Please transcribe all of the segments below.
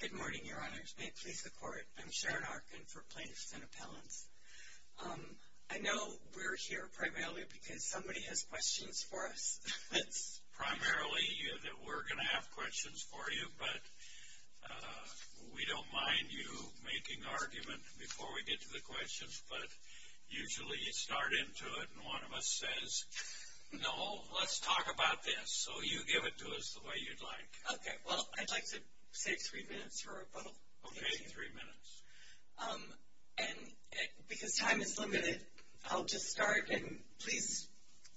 Good morning, Your Honors. May it please the Court, I'm Sharon Arkin for Plaintiffs & Appellants. I know we're here primarily because somebody has questions for us. It's primarily that we're going to have questions for you, but we don't mind you making argument before we get to the questions. But usually you start into it and one of us says, no, let's talk about this. So you give it to us the way you'd like. Okay, well, I'd like to save three minutes for a rebuttal. Okay, three minutes. And because time is limited, I'll just start. And please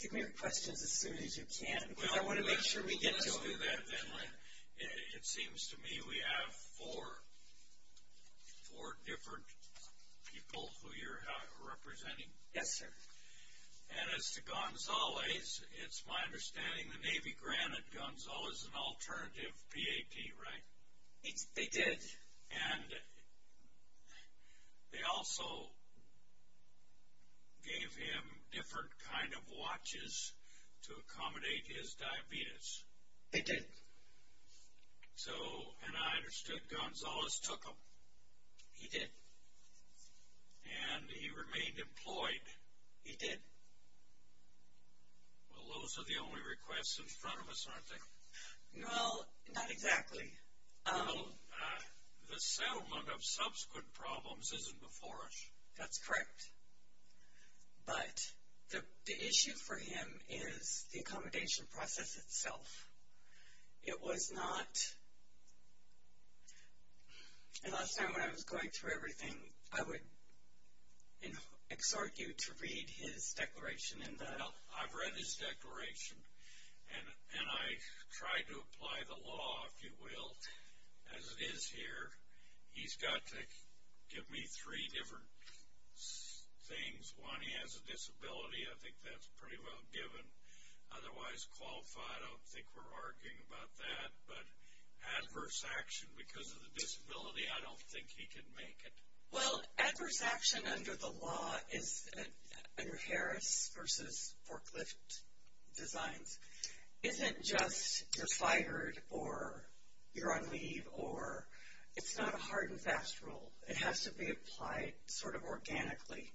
give me your questions as soon as you can because I want to make sure we get to them. It seems to me we have four different people who you're representing. Yes, sir. And as to Gonzales, it's my understanding the Navy granted Gonzales an alternative PAT, right? They did. And they also gave him different kind of watches to accommodate his diabetes. They did. So, and I understood Gonzales took them. He did. And he remained employed. He did. Well, those are the only requests in front of us, aren't they? Well, not exactly. The settlement of subsequent problems isn't before us. That's correct. But the issue for him is the accommodation process itself. It was not. And last time when I was going through everything, I would exhort you to read his declaration. I've read his declaration. And I tried to apply the law, if you will, as it is here. He's got to give me three different things. One, he has a disability. I think that's pretty well given. Otherwise qualified, I don't think we're arguing about that. But adverse action because of the disability, I don't think he can make it. Well, adverse action under the law is under Harris versus forklift designs, isn't just you're fired or you're on leave or it's not a hard and fast rule. It has to be applied sort of organically.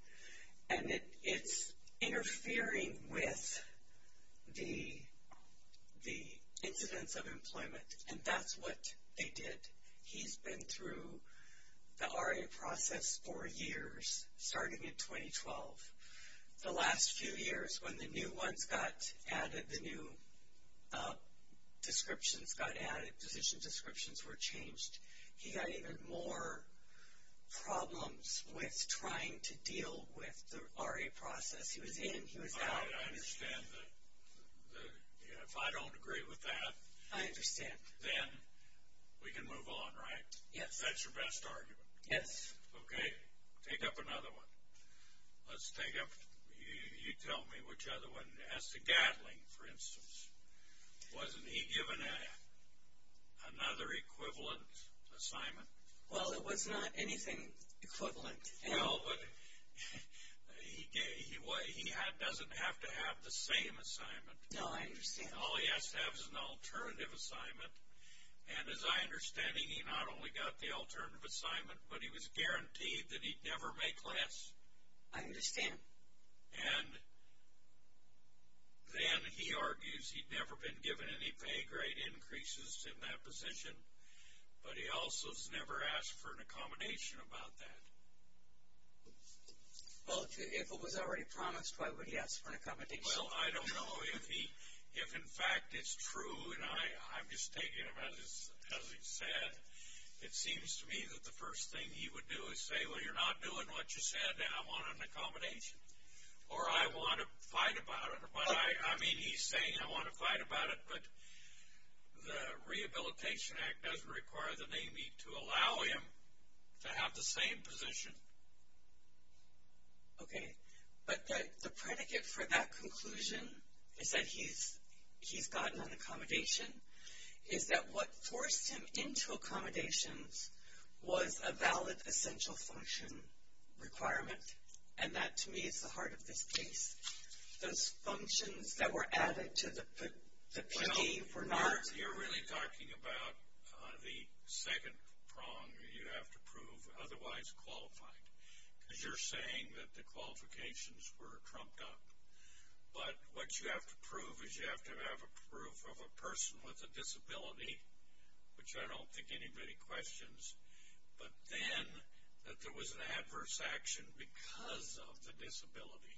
And it's interfering with the incidence of employment. And that's what they did. He's been through the RA process for years, starting in 2012. The last few years when the new ones got added, the new descriptions got added, position descriptions were changed, he got even more problems with trying to deal with the RA process. He was in, he was out. I understand that. If I don't agree with that. I understand. Then we can move on, right? Yes. That's your best argument? Yes. Okay. Take up another one. Let's take up, you tell me which other one. As to Gatling, for instance, wasn't he given another equivalent assignment? Well, it was not anything equivalent. No, but he doesn't have to have the same assignment. No, I understand. All he has to have is an alternative assignment. And as I understand it, he not only got the alternative assignment, but he was guaranteed that he'd never make less. I understand. And then he argues he'd never been given any pay grade increases in that position, but he also has never asked for an accommodation about that. Well, if it was already promised, why would he ask for an accommodation? Well, I don't know if in fact it's true, and I'm just taking it as he said. It seems to me that the first thing he would do is say, well, you're not doing what you said and I want an accommodation. Or I want to fight about it. I mean, he's saying I want to fight about it, but the Rehabilitation Act doesn't require the NAMI to allow him to have the same position. Okay. But the predicate for that conclusion is that he's gotten an accommodation, is that what forced him into accommodations was a valid essential function requirement, and that to me is the heart of this case. Those functions that were added to the PD were not. Well, you're really talking about the second prong you have to prove otherwise qualified, because you're saying that the qualifications were trumped up. But what you have to prove is you have to have a proof of a person with a disability, which I don't think anybody questions, but then that there was an adverse action because of the disability.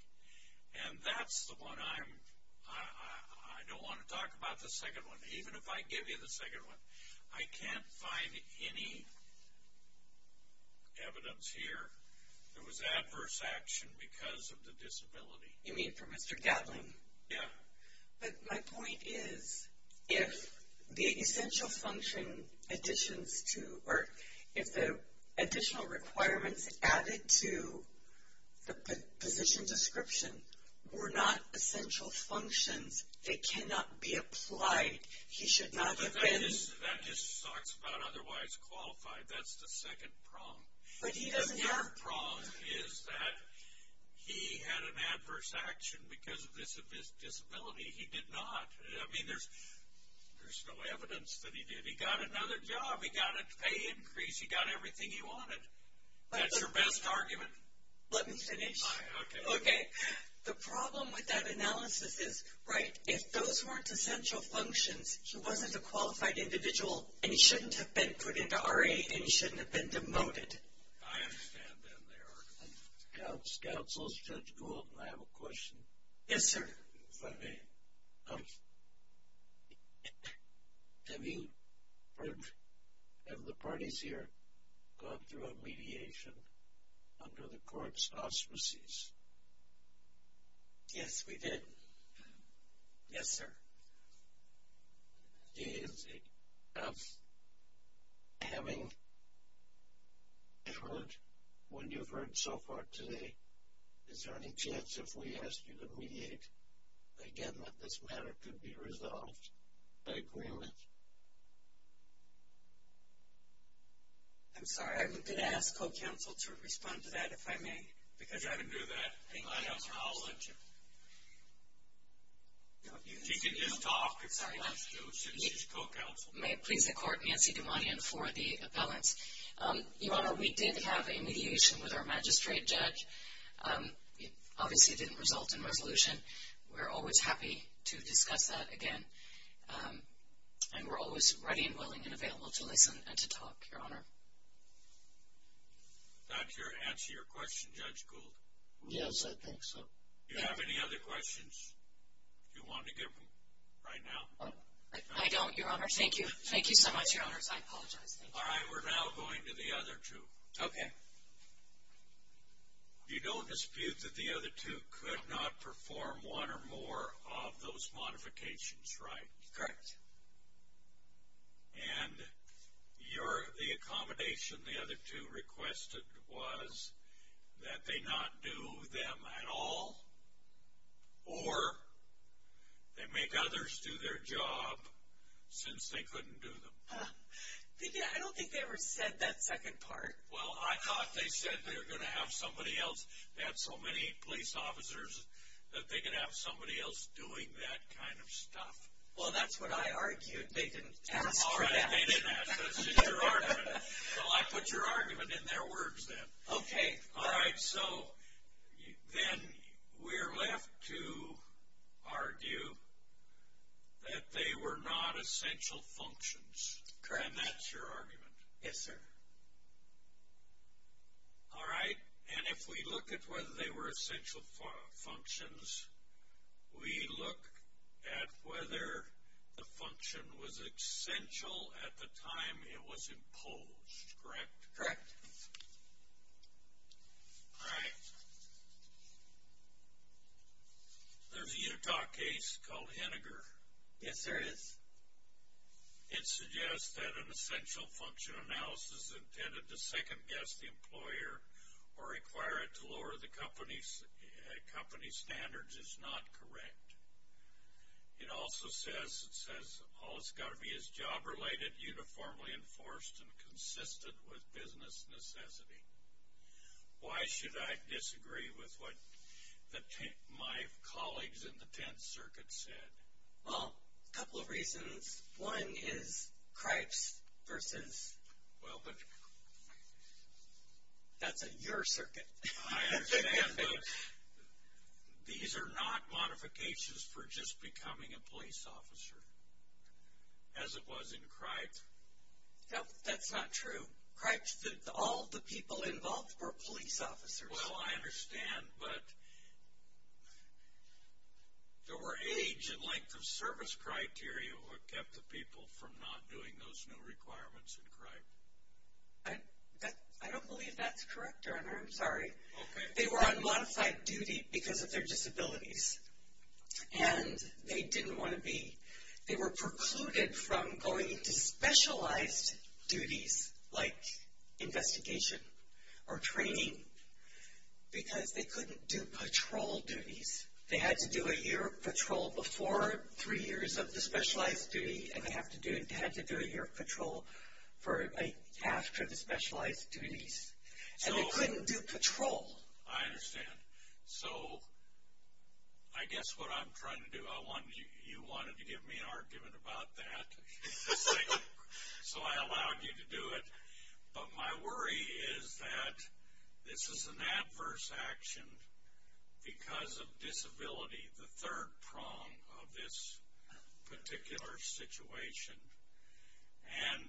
And that's the one I'm – I don't want to talk about the second one, but there was adverse action because of the disability. You mean for Mr. Gatling? Yeah. But my point is if the essential function additions to – or if the additional requirements added to the position description were not essential functions, they cannot be applied. He should not have been – But that just talks about otherwise qualified. That's the second prong. But he doesn't have – The third prong is that he had an adverse action because of his disability. He did not. I mean, there's no evidence that he did. He got another job. He got a pay increase. He got everything he wanted. That's your best argument? Let me finish. Okay. The problem with that analysis is, right, if those weren't essential functions, he wasn't a qualified individual, and he shouldn't have been put into RA, and he shouldn't have been demoted. I understand that. Counsel, is Judge Gould, and I have a question. Yes, sir. If I may. Have you heard – have the parties here gone through a mediation under the court's auspices? Yes, we did. Yes, sir. Is it enough having heard what you've heard so far today? Is there any chance, if we ask you to mediate again, that this matter could be resolved by agreement? I'm sorry. I'm going to ask co-counsel to respond to that, if I may. Because I would do that. I'll let you. She can just talk if she wants to, since she's co-counsel. May it please the Court, Nancy Dumanian for the appellants. Your Honor, we did have a mediation with our magistrate judge. Obviously, it didn't result in resolution. We're always happy to discuss that again, and we're always ready and willing and available to listen and to talk, Your Honor. Is that your answer to your question, Judge Gould? Yes, I think so. Do you have any other questions you want to give right now? I don't, Your Honor. Thank you. Thank you so much, Your Honors. I apologize. All right. We're now going to the other two. Okay. You don't dispute that the other two could not perform one or more of those modifications, right? Correct. And the accommodation the other two requested was that they not do them at all, or they make others do their job since they couldn't do them. I don't think they ever said that second part. Well, I thought they said they were going to have somebody else. They had so many police officers that they could have somebody else doing that kind of stuff. Well, that's what I argued. They didn't ask for that. All right. They didn't ask. That's just your argument. So I put your argument in their words then. Okay. All right. So then we're left to argue that they were not essential functions. Correct. And that's your argument. Yes, sir. All right. And if we look at whether they were essential functions, we look at whether the function was essential at the time it was imposed. Correct? Correct. All right. There's a Utah case called Henniger. Yes, there is. It suggests that an essential function analysis intended to second-guess the employer or require it to lower the company's standards is not correct. It also says it says all it's got to be is job-related, uniformly enforced, and consistent with business necessity. Why should I disagree with what my colleagues in the 10th Circuit said? Well, a couple of reasons. One is Cripes versus – Well, but – That's in your circuit. I understand, but these are not modifications for just becoming a police officer, as it was in Cripes. No, that's not true. Cripes, all the people involved were police officers. Well, I understand, but there were age and length of service criteria that kept the people from not doing those new requirements in Cripes. I don't believe that's correct, Ernier. I'm sorry. Okay. They were on modified duty because of their disabilities, and they didn't want to be. They were precluded from going into specialized duties like investigation or training because they couldn't do patrol duties. They had to do a year of patrol before three years of the specialized duty, and they had to do a year of patrol after the specialized duties. And they couldn't do patrol. I understand. So I guess what I'm trying to do, you wanted to give me an argument about that. So I allowed you to do it. But my worry is that this is an adverse action because of disability, the third prong of this particular situation. And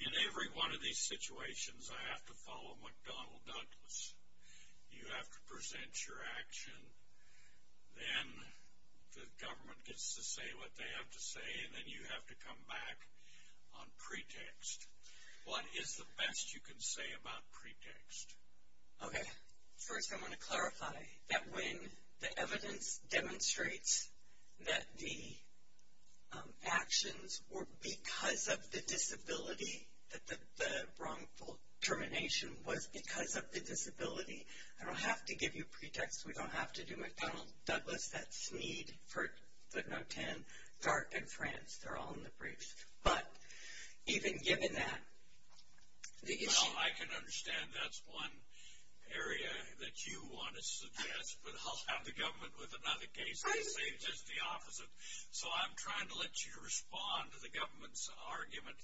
in every one of these situations, I have to follow McDonnell Douglas. You have to present your action. Then the government gets to say what they have to say, and then you have to come back on pretext. What is the best you can say about pretext? Okay. First I want to clarify that when the evidence demonstrates that the actions were because of the disability, that the wrongful termination was because of the disability, I don't have to give you pretext. We don't have to do McDonnell Douglas. That's need for the note 10. Dart and France, they're all in the briefs. But even given that, the issue. Well, I can understand that's one area that you want to suggest, but I'll have the government with another case and say just the opposite. So I'm trying to let you respond to the government's argument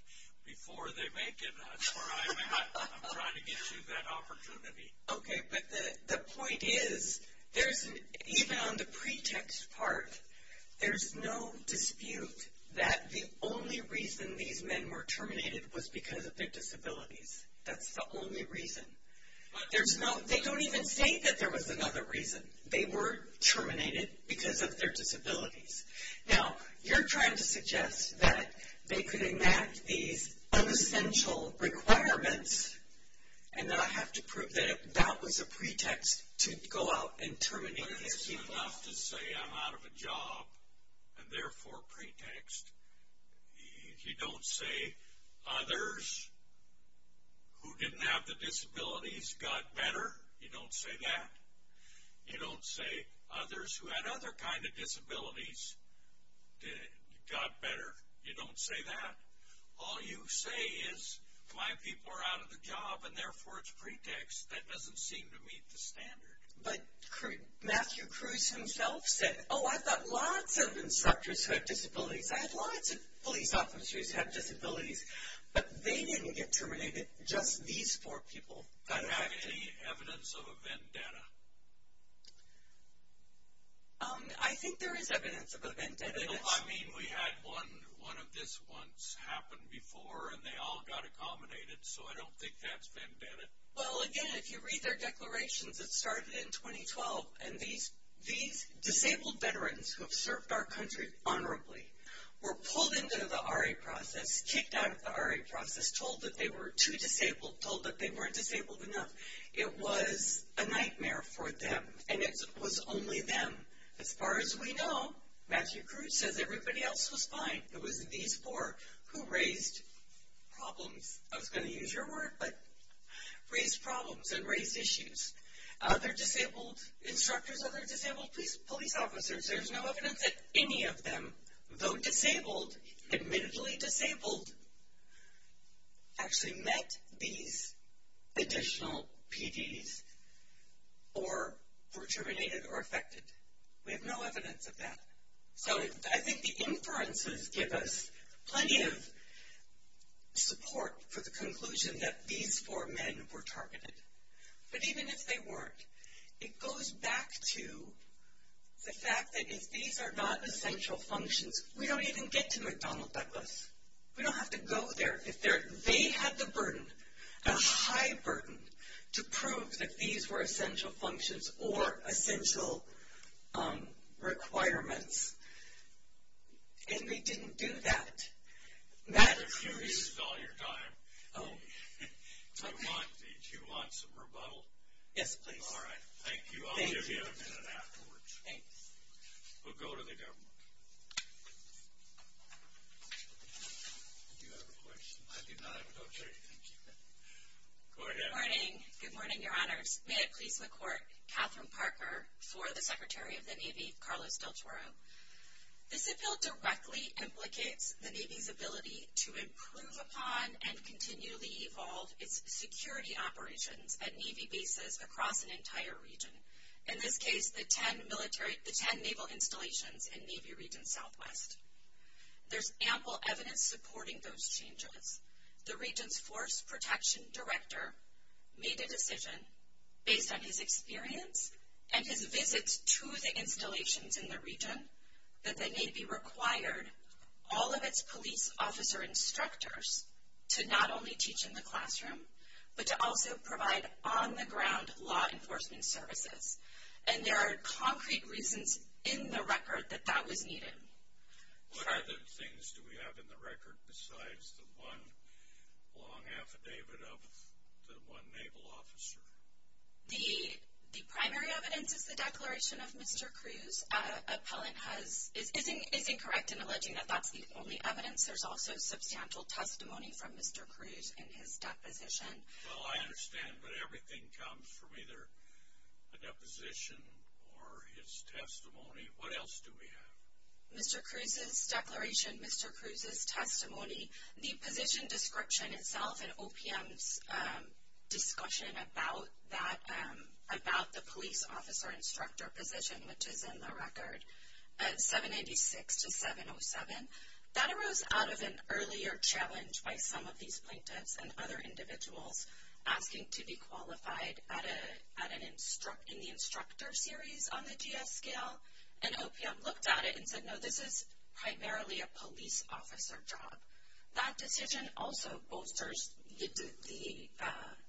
before they make it. That's where I'm at. I'm trying to get you that opportunity. Okay. But the point is, even on the pretext part, there's no dispute that the only reason these men were terminated was because of their disabilities. That's the only reason. They don't even say that there was another reason. They were terminated because of their disabilities. Now, you're trying to suggest that they could enact these unessential requirements, and that I have to prove that that was a pretext to go out and terminate these people. But is it enough to say I'm out of a job and therefore pretext? You don't say others who didn't have the disabilities got better? You don't say that. You don't say others who had other kinds of disabilities got better? You don't say that. All you say is my people are out of the job and therefore it's pretext. That doesn't seem to meet the standard. But Matthew Cruz himself said, oh, I've got lots of instructors who have disabilities. I have lots of police officers who have disabilities. But they didn't get terminated. Just these four people got affected. Do you have any evidence of a vendetta? I think there is evidence of a vendetta. I mean, we had one of this once happen before, and they all got accommodated. So I don't think that's vendetta. Well, again, if you read their declarations, it started in 2012, and these disabled veterans who have served our country honorably were pulled into the RA process, kicked out of the RA process, told that they were too disabled, told that they weren't disabled enough. It was a nightmare for them, and it was only them. As far as we know, Matthew Cruz says everybody else was fine. It was these four who raised problems. I was going to use your word, but raised problems and raised issues. Other disabled instructors, other disabled police officers, there's no evidence that any of them, though disabled, admittedly disabled, actually met these additional PDs or were terminated or affected. We have no evidence of that. So I think the inferences give us plenty of support for the conclusion that these four men were targeted. But even if they weren't, it goes back to the fact that if these are not essential functions, we don't even get to McDonnell Douglas. We don't have to go there if they had the burden, a high burden, to prove that these were essential functions or essential requirements, and they didn't do that. Matthew Cruz. I've been curious all your time. Oh. Do you want some rebuttal? Yes, please. All right. Thank you. I'll give you a minute afterwards. Thanks. We'll go to the government. Do you have a question? I do not have a question. Go ahead. Good morning. Good morning, Your Honors. May it please the Court. Catherine Parker for the Secretary of the Navy, Carlos Del Toro. This appeal directly implicates the Navy's ability to improve upon and continually evolve its security operations at Navy bases across an entire region. In this case, the ten naval installations in Navy Region Southwest. There's ample evidence supporting those changes. The region's force protection director made a decision based on his experience and his visits to the installations in the region, that the Navy required all of its police officer instructors to not only teach in the classroom, but to also provide on-the-ground law enforcement services. And there are concrete reasons in the record that that was needed. What other things do we have in the record besides the one long affidavit of the one naval officer? The primary evidence is the declaration of Mr. Cruz. Appellant is incorrect in alleging that that's the only evidence. There's also substantial testimony from Mr. Cruz in his deposition. Well, I understand, but everything comes from either a deposition or his testimony. What else do we have? The position description itself in OPM's discussion about the police officer instructor position, which is in the record, 786-707. That arose out of an earlier challenge by some of these plaintiffs and other individuals asking to be qualified in the instructor series on the GS scale. And OPM looked at it and said, no, this is primarily a police officer job. That decision also bolsters the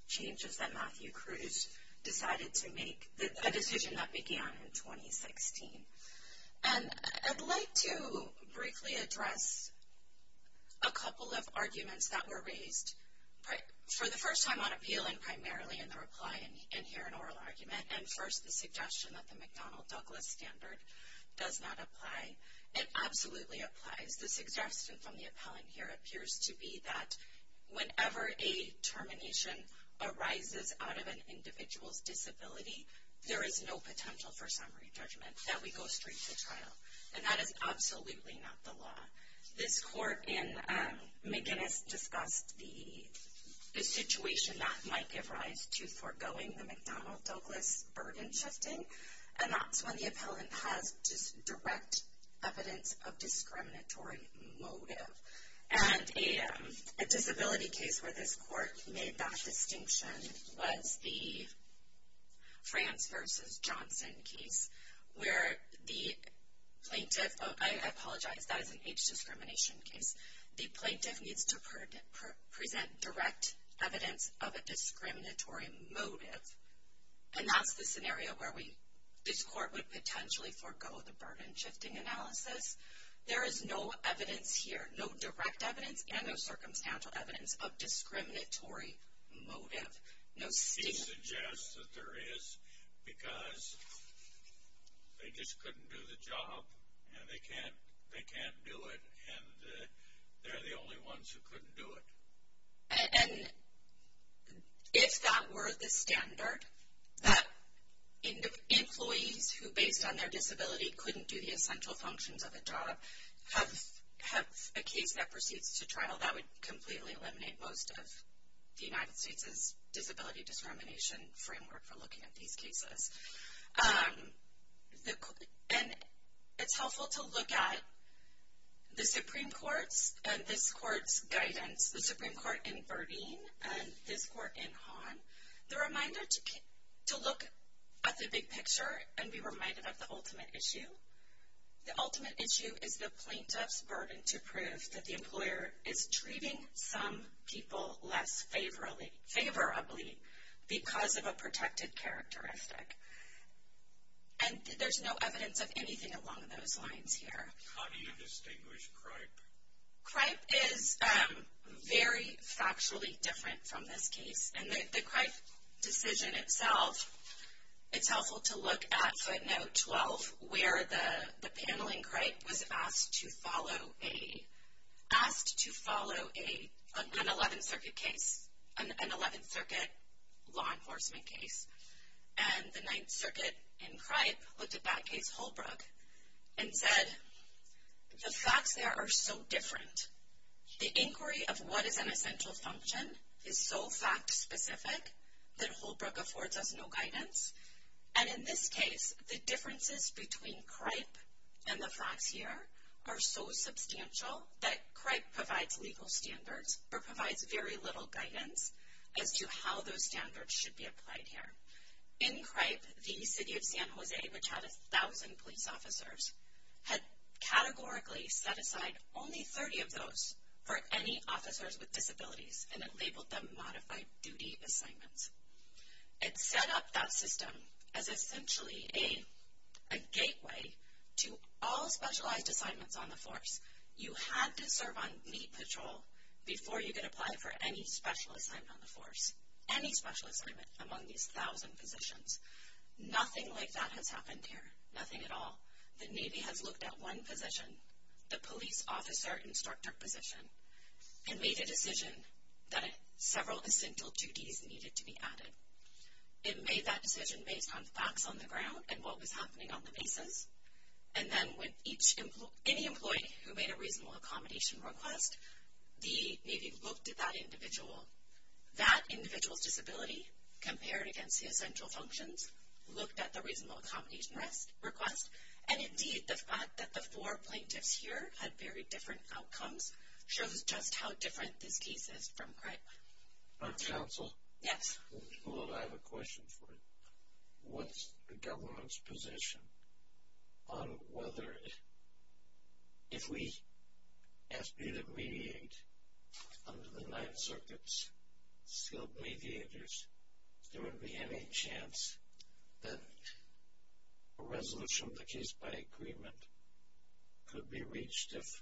changes that Matthew Cruz decided to make, a decision that began in 2016. And I'd like to briefly address a couple of arguments that were raised for the first time on appeal and primarily in the reply and here in oral argument. And first, the suggestion that the McDonnell-Douglas standard does not apply. It absolutely applies. The suggestion from the appellant here appears to be that whenever a termination arises out of an individual's disability, there is no potential for summary judgment, that we go straight to trial. And that is absolutely not the law. This court in McGinnis discussed the situation that might give rise to foregoing the McDonnell-Douglas burden shifting. And that's when the appellant has direct evidence of discriminatory motive. And a disability case where this court made that distinction was the France v. Johnson case, where the plaintiff, I apologize, that is an age discrimination case, the plaintiff needs to present direct evidence of a discriminatory motive. And that's the scenario where this court would potentially forego the burden shifting analysis. There is no evidence here, no direct evidence and no circumstantial evidence of discriminatory motive. He suggests that there is because they just couldn't do the job and they can't do it. And they're the only ones who couldn't do it. And if that were the standard, that employees who, based on their disability, couldn't do the essential functions of a job have a case that proceeds to trial, that would completely eliminate most of the United States' disability discrimination framework for looking at these cases. And it's helpful to look at the Supreme Court's and this court's guidance, the Supreme Court in Burdine and this court in Hahn, the reminder to look at the big picture and be reminded of the ultimate issue. The ultimate issue is the plaintiff's burden to prove that the employer is treating some people less favorably because of a protected characteristic. And there's no evidence of anything along those lines here. How do you distinguish cripe? Cripe is very factually different from this case. And the cripe decision itself, it's helpful to look at footnote 12, where the panel in cripe was asked to follow an 11th Circuit case, an 11th Circuit law enforcement case. And the 9th Circuit in cripe looked at that case Holbrook and said, The facts there are so different. The inquiry of what is an essential function is so fact-specific that Holbrook affords us no guidance. And in this case, the differences between cripe and the facts here are so substantial that cripe provides legal standards or provides very little guidance as to how those standards should be applied here. In cripe, the city of San Jose, which had 1,000 police officers, had categorically set aside only 30 of those for any officers with disabilities and had labeled them modified duty assignments. It set up that system as essentially a gateway to all specialized assignments on the force. You had to serve on meat patrol before you could apply for any special assignment on the force. Any special assignment among these 1,000 positions. Nothing like that has happened here. Nothing at all. The Navy has looked at one position, the police officer instructor position, and made a decision that several essential duties needed to be added. It made that decision based on facts on the ground and what was happening on the basis. And then when any employee who made a reasonable accommodation request, the Navy looked at that individual. That individual's disability compared against the essential functions, looked at the reasonable accommodation request, and indeed the fact that the four plaintiffs here had very different outcomes shows just how different this case is from cripe. Our counsel. Yes. I have a question for you. What's the government's position on whether, if we ask you to mediate under the Ninth Circuit's skilled mediators, there would be any chance that a resolution of the case by agreement could be reached if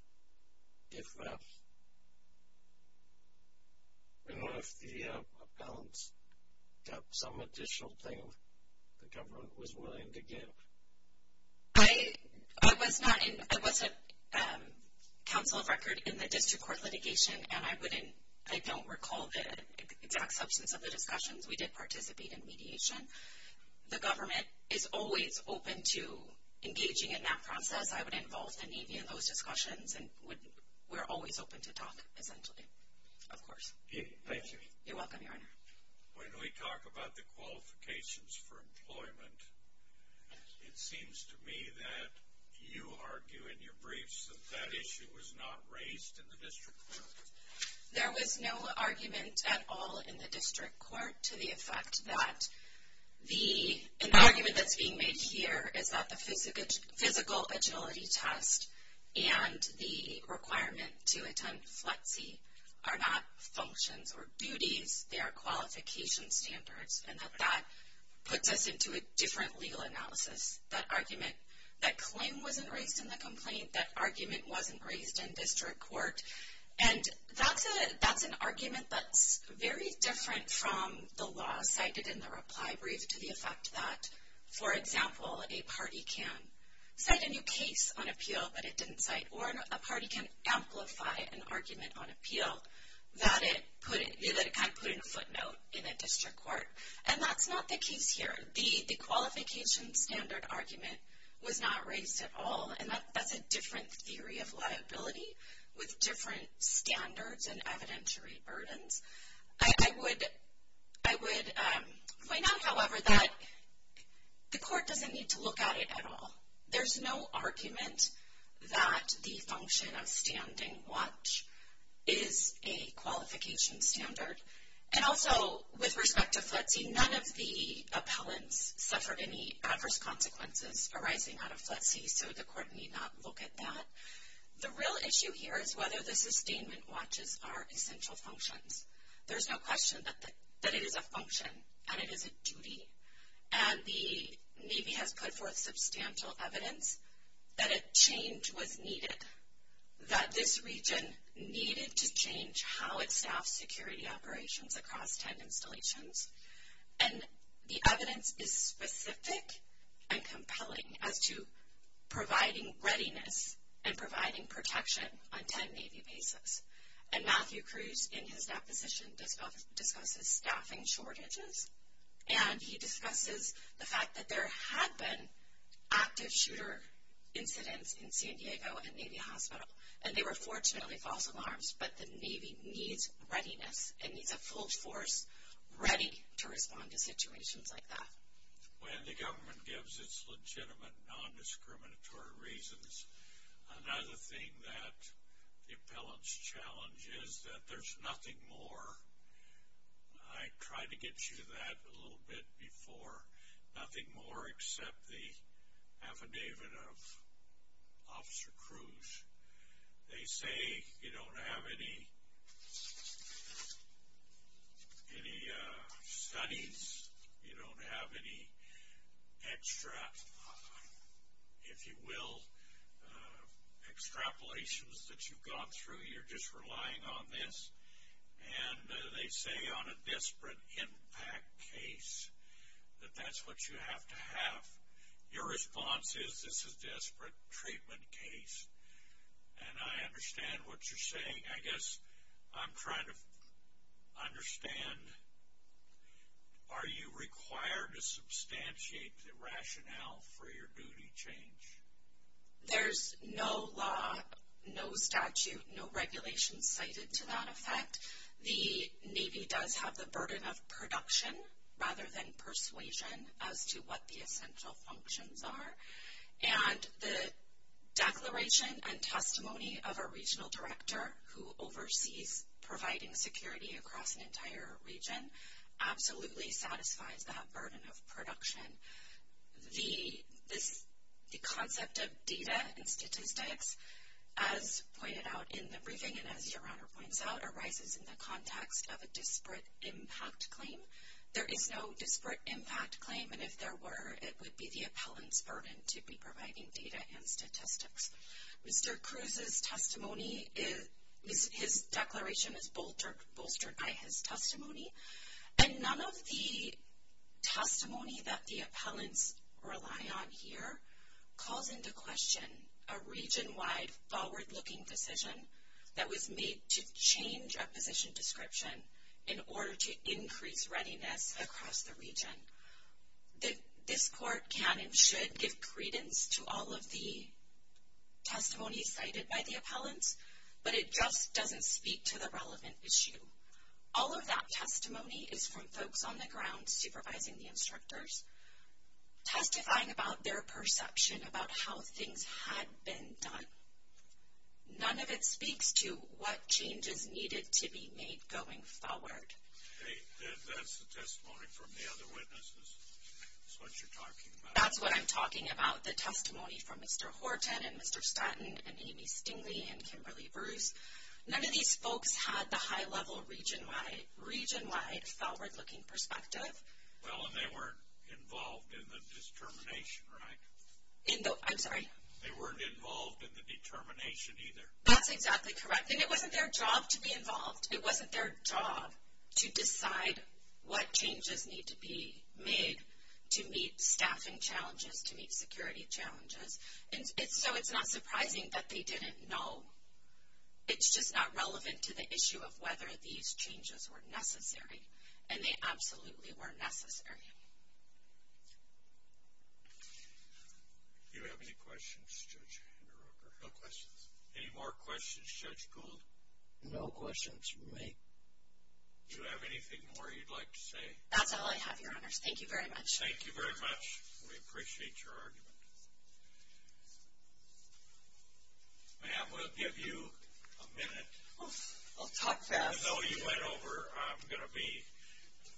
the appellants got some additional thing the government was willing to give? I was not in. I was a counsel of record in the district court litigation, and I don't recall the exact substance of the discussions. We did participate in mediation. The government is always open to engaging in that process. I would involve the Navy in those discussions, and we're always open to talk, essentially. Of course. Thank you. You're welcome, Your Honor. When we talk about the qualifications for employment, it seems to me that you argue in your briefs that that issue was not raised in the district court. There was no argument at all in the district court to the effect that the argument that's being made here is that the physical agility test and the requirement to attend FLETC are not functions or duties. They are qualification standards, and that that puts us into a different legal analysis. That claim wasn't raised in the complaint. That argument wasn't raised in district court. And that's an argument that's very different from the law cited in the reply brief to the effect that, for example, a party can cite a new case on appeal that it didn't cite or a party can amplify an argument on appeal that it kind of put in a footnote in a district court. And that's not the case here. The qualification standard argument was not raised at all, and that's a different theory of liability with different standards and evidentiary burdens. I would point out, however, that the court doesn't need to look at it at all. There's no argument that the function of standing watch is a qualification standard. And also, with respect to FLETC, none of the appellants suffered any adverse consequences arising out of FLETC, so the court need not look at that. The real issue here is whether the sustainment watches are essential functions. There's no question that it is a function and it is a duty. And the Navy has put forth substantial evidence that a change was needed, that this region needed to change how it staffs security operations across 10 installations. And the evidence is specific and compelling as to providing readiness and providing protection on 10 Navy bases. And Matthew Cruz, in his deposition, discusses staffing shortages, and he discusses the fact that there had been active shooter incidents in San Diego at Navy Hospital, and they were fortunately false alarms, but the Navy needs readiness. It needs a full force ready to respond to situations like that. When the government gives its legitimate non-discriminatory reasons, another thing that the appellants challenge is that there's nothing more. I tried to get you to that a little bit before. Nothing more except the affidavit of Officer Cruz. They say you don't have any studies. You don't have any extra, if you will, extrapolations that you've gone through. You're just relying on this. And they say on a disparate impact case that that's what you have to have. Your response is this is a disparate treatment case, and I understand what you're saying. I guess I'm trying to understand, are you required to substantiate the rationale for your duty change? There's no law, no statute, no regulation cited to that effect. The Navy does have the burden of production rather than persuasion as to what the essential functions are. And the declaration and testimony of a regional director who oversees providing security across an entire region absolutely satisfies that burden of production. The concept of data and statistics, as pointed out in the briefing and as Your Honor points out, arises in the context of a disparate impact claim. There is no disparate impact claim, and if there were, it would be the appellant's burden to be providing data and statistics. Mr. Cruz's testimony, his declaration is bolstered by his testimony. And none of the testimony that the appellants rely on here calls into question a region-wide forward-looking decision that was made to change a position description in order to increase readiness across the region. This court can and should give credence to all of the testimony cited by the appellants, but it just doesn't speak to the relevant issue. All of that testimony is from folks on the ground supervising the instructors, testifying about their perception about how things had been done. None of it speaks to what changes needed to be made going forward. That's the testimony from the other witnesses? That's what you're talking about? That's what I'm talking about, the testimony from Mr. Horton and Mr. Stanton and Amy Stingley and Kimberly Bruce. None of these folks had the high-level region-wide forward-looking perspective. Well, and they weren't involved in the determination, right? I'm sorry? They weren't involved in the determination either. That's exactly correct. And it wasn't their job to be involved. It wasn't their job to decide what changes need to be made to meet staffing challenges, to meet security challenges. So it's not surprising that they didn't know. It's just not relevant to the issue of whether these changes were necessary. And they absolutely were necessary. Do you have any questions, Judge Henderocker? No questions. Any more questions, Judge Gould? No questions from me. Do you have anything more you'd like to say? That's all I have, Your Honors. Thank you very much. Thank you very much. We appreciate your argument. Ma'am, we'll give you a minute. I'll talk fast. I know you went over.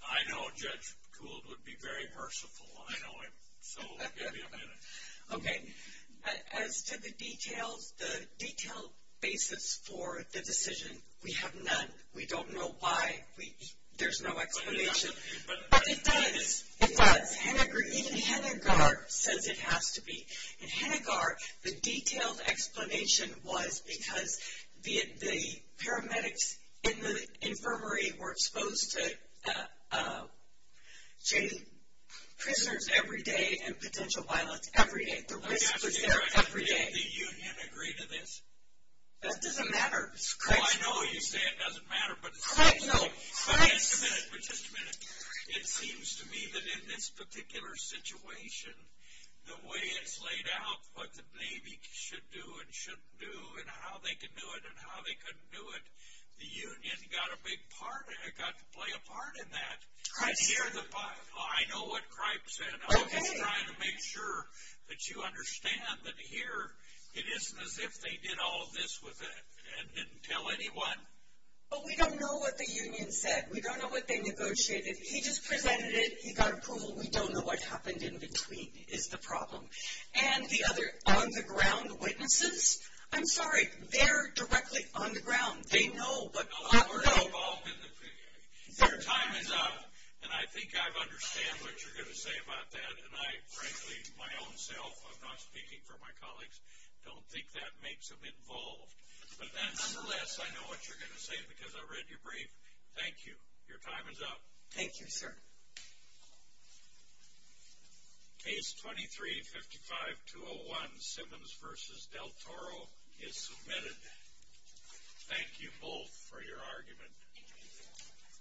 I know Judge Gould would be very merciful. I know him. So we'll give you a minute. Okay. As to the detailed basis for the decision, we have none. We don't know why. There's no explanation. But it does. It does. Even Hennegar says it has to be. And Hennegar, the detailed explanation was because the paramedics in the infirmary were exposed to prisoners every day and potential violence every day. The risk was there every day. Do you, then, agree to this? That doesn't matter. Well, I know you say it doesn't matter. Just a minute. Just a minute. It seems to me that in this particular situation, the way it's laid out, what the Navy should do and shouldn't do, and how they can do it and how they couldn't do it, the union got a big part, got to play a part in that. Christ. I know what Cripes said. Okay. I'm just trying to make sure that you understand that here it isn't as if they did all this with it and didn't tell anyone. But we don't know what the union said. We don't know what they negotiated. He just presented it. He got approval. We don't know what happened in between, is the problem. And the other on-the-ground witnesses, I'm sorry, they're directly on the ground. They know. Their time is up, and I think I understand what you're going to say about that. And I, frankly, my own self, I'm not speaking for my colleagues, don't think that makes them involved. But nonetheless, I know what you're going to say because I read your brief. Thank you. Your time is up. Thank you, sir. Case 2355-201, Simmons v. Del Toro, is submitted. Thank you both for your argument.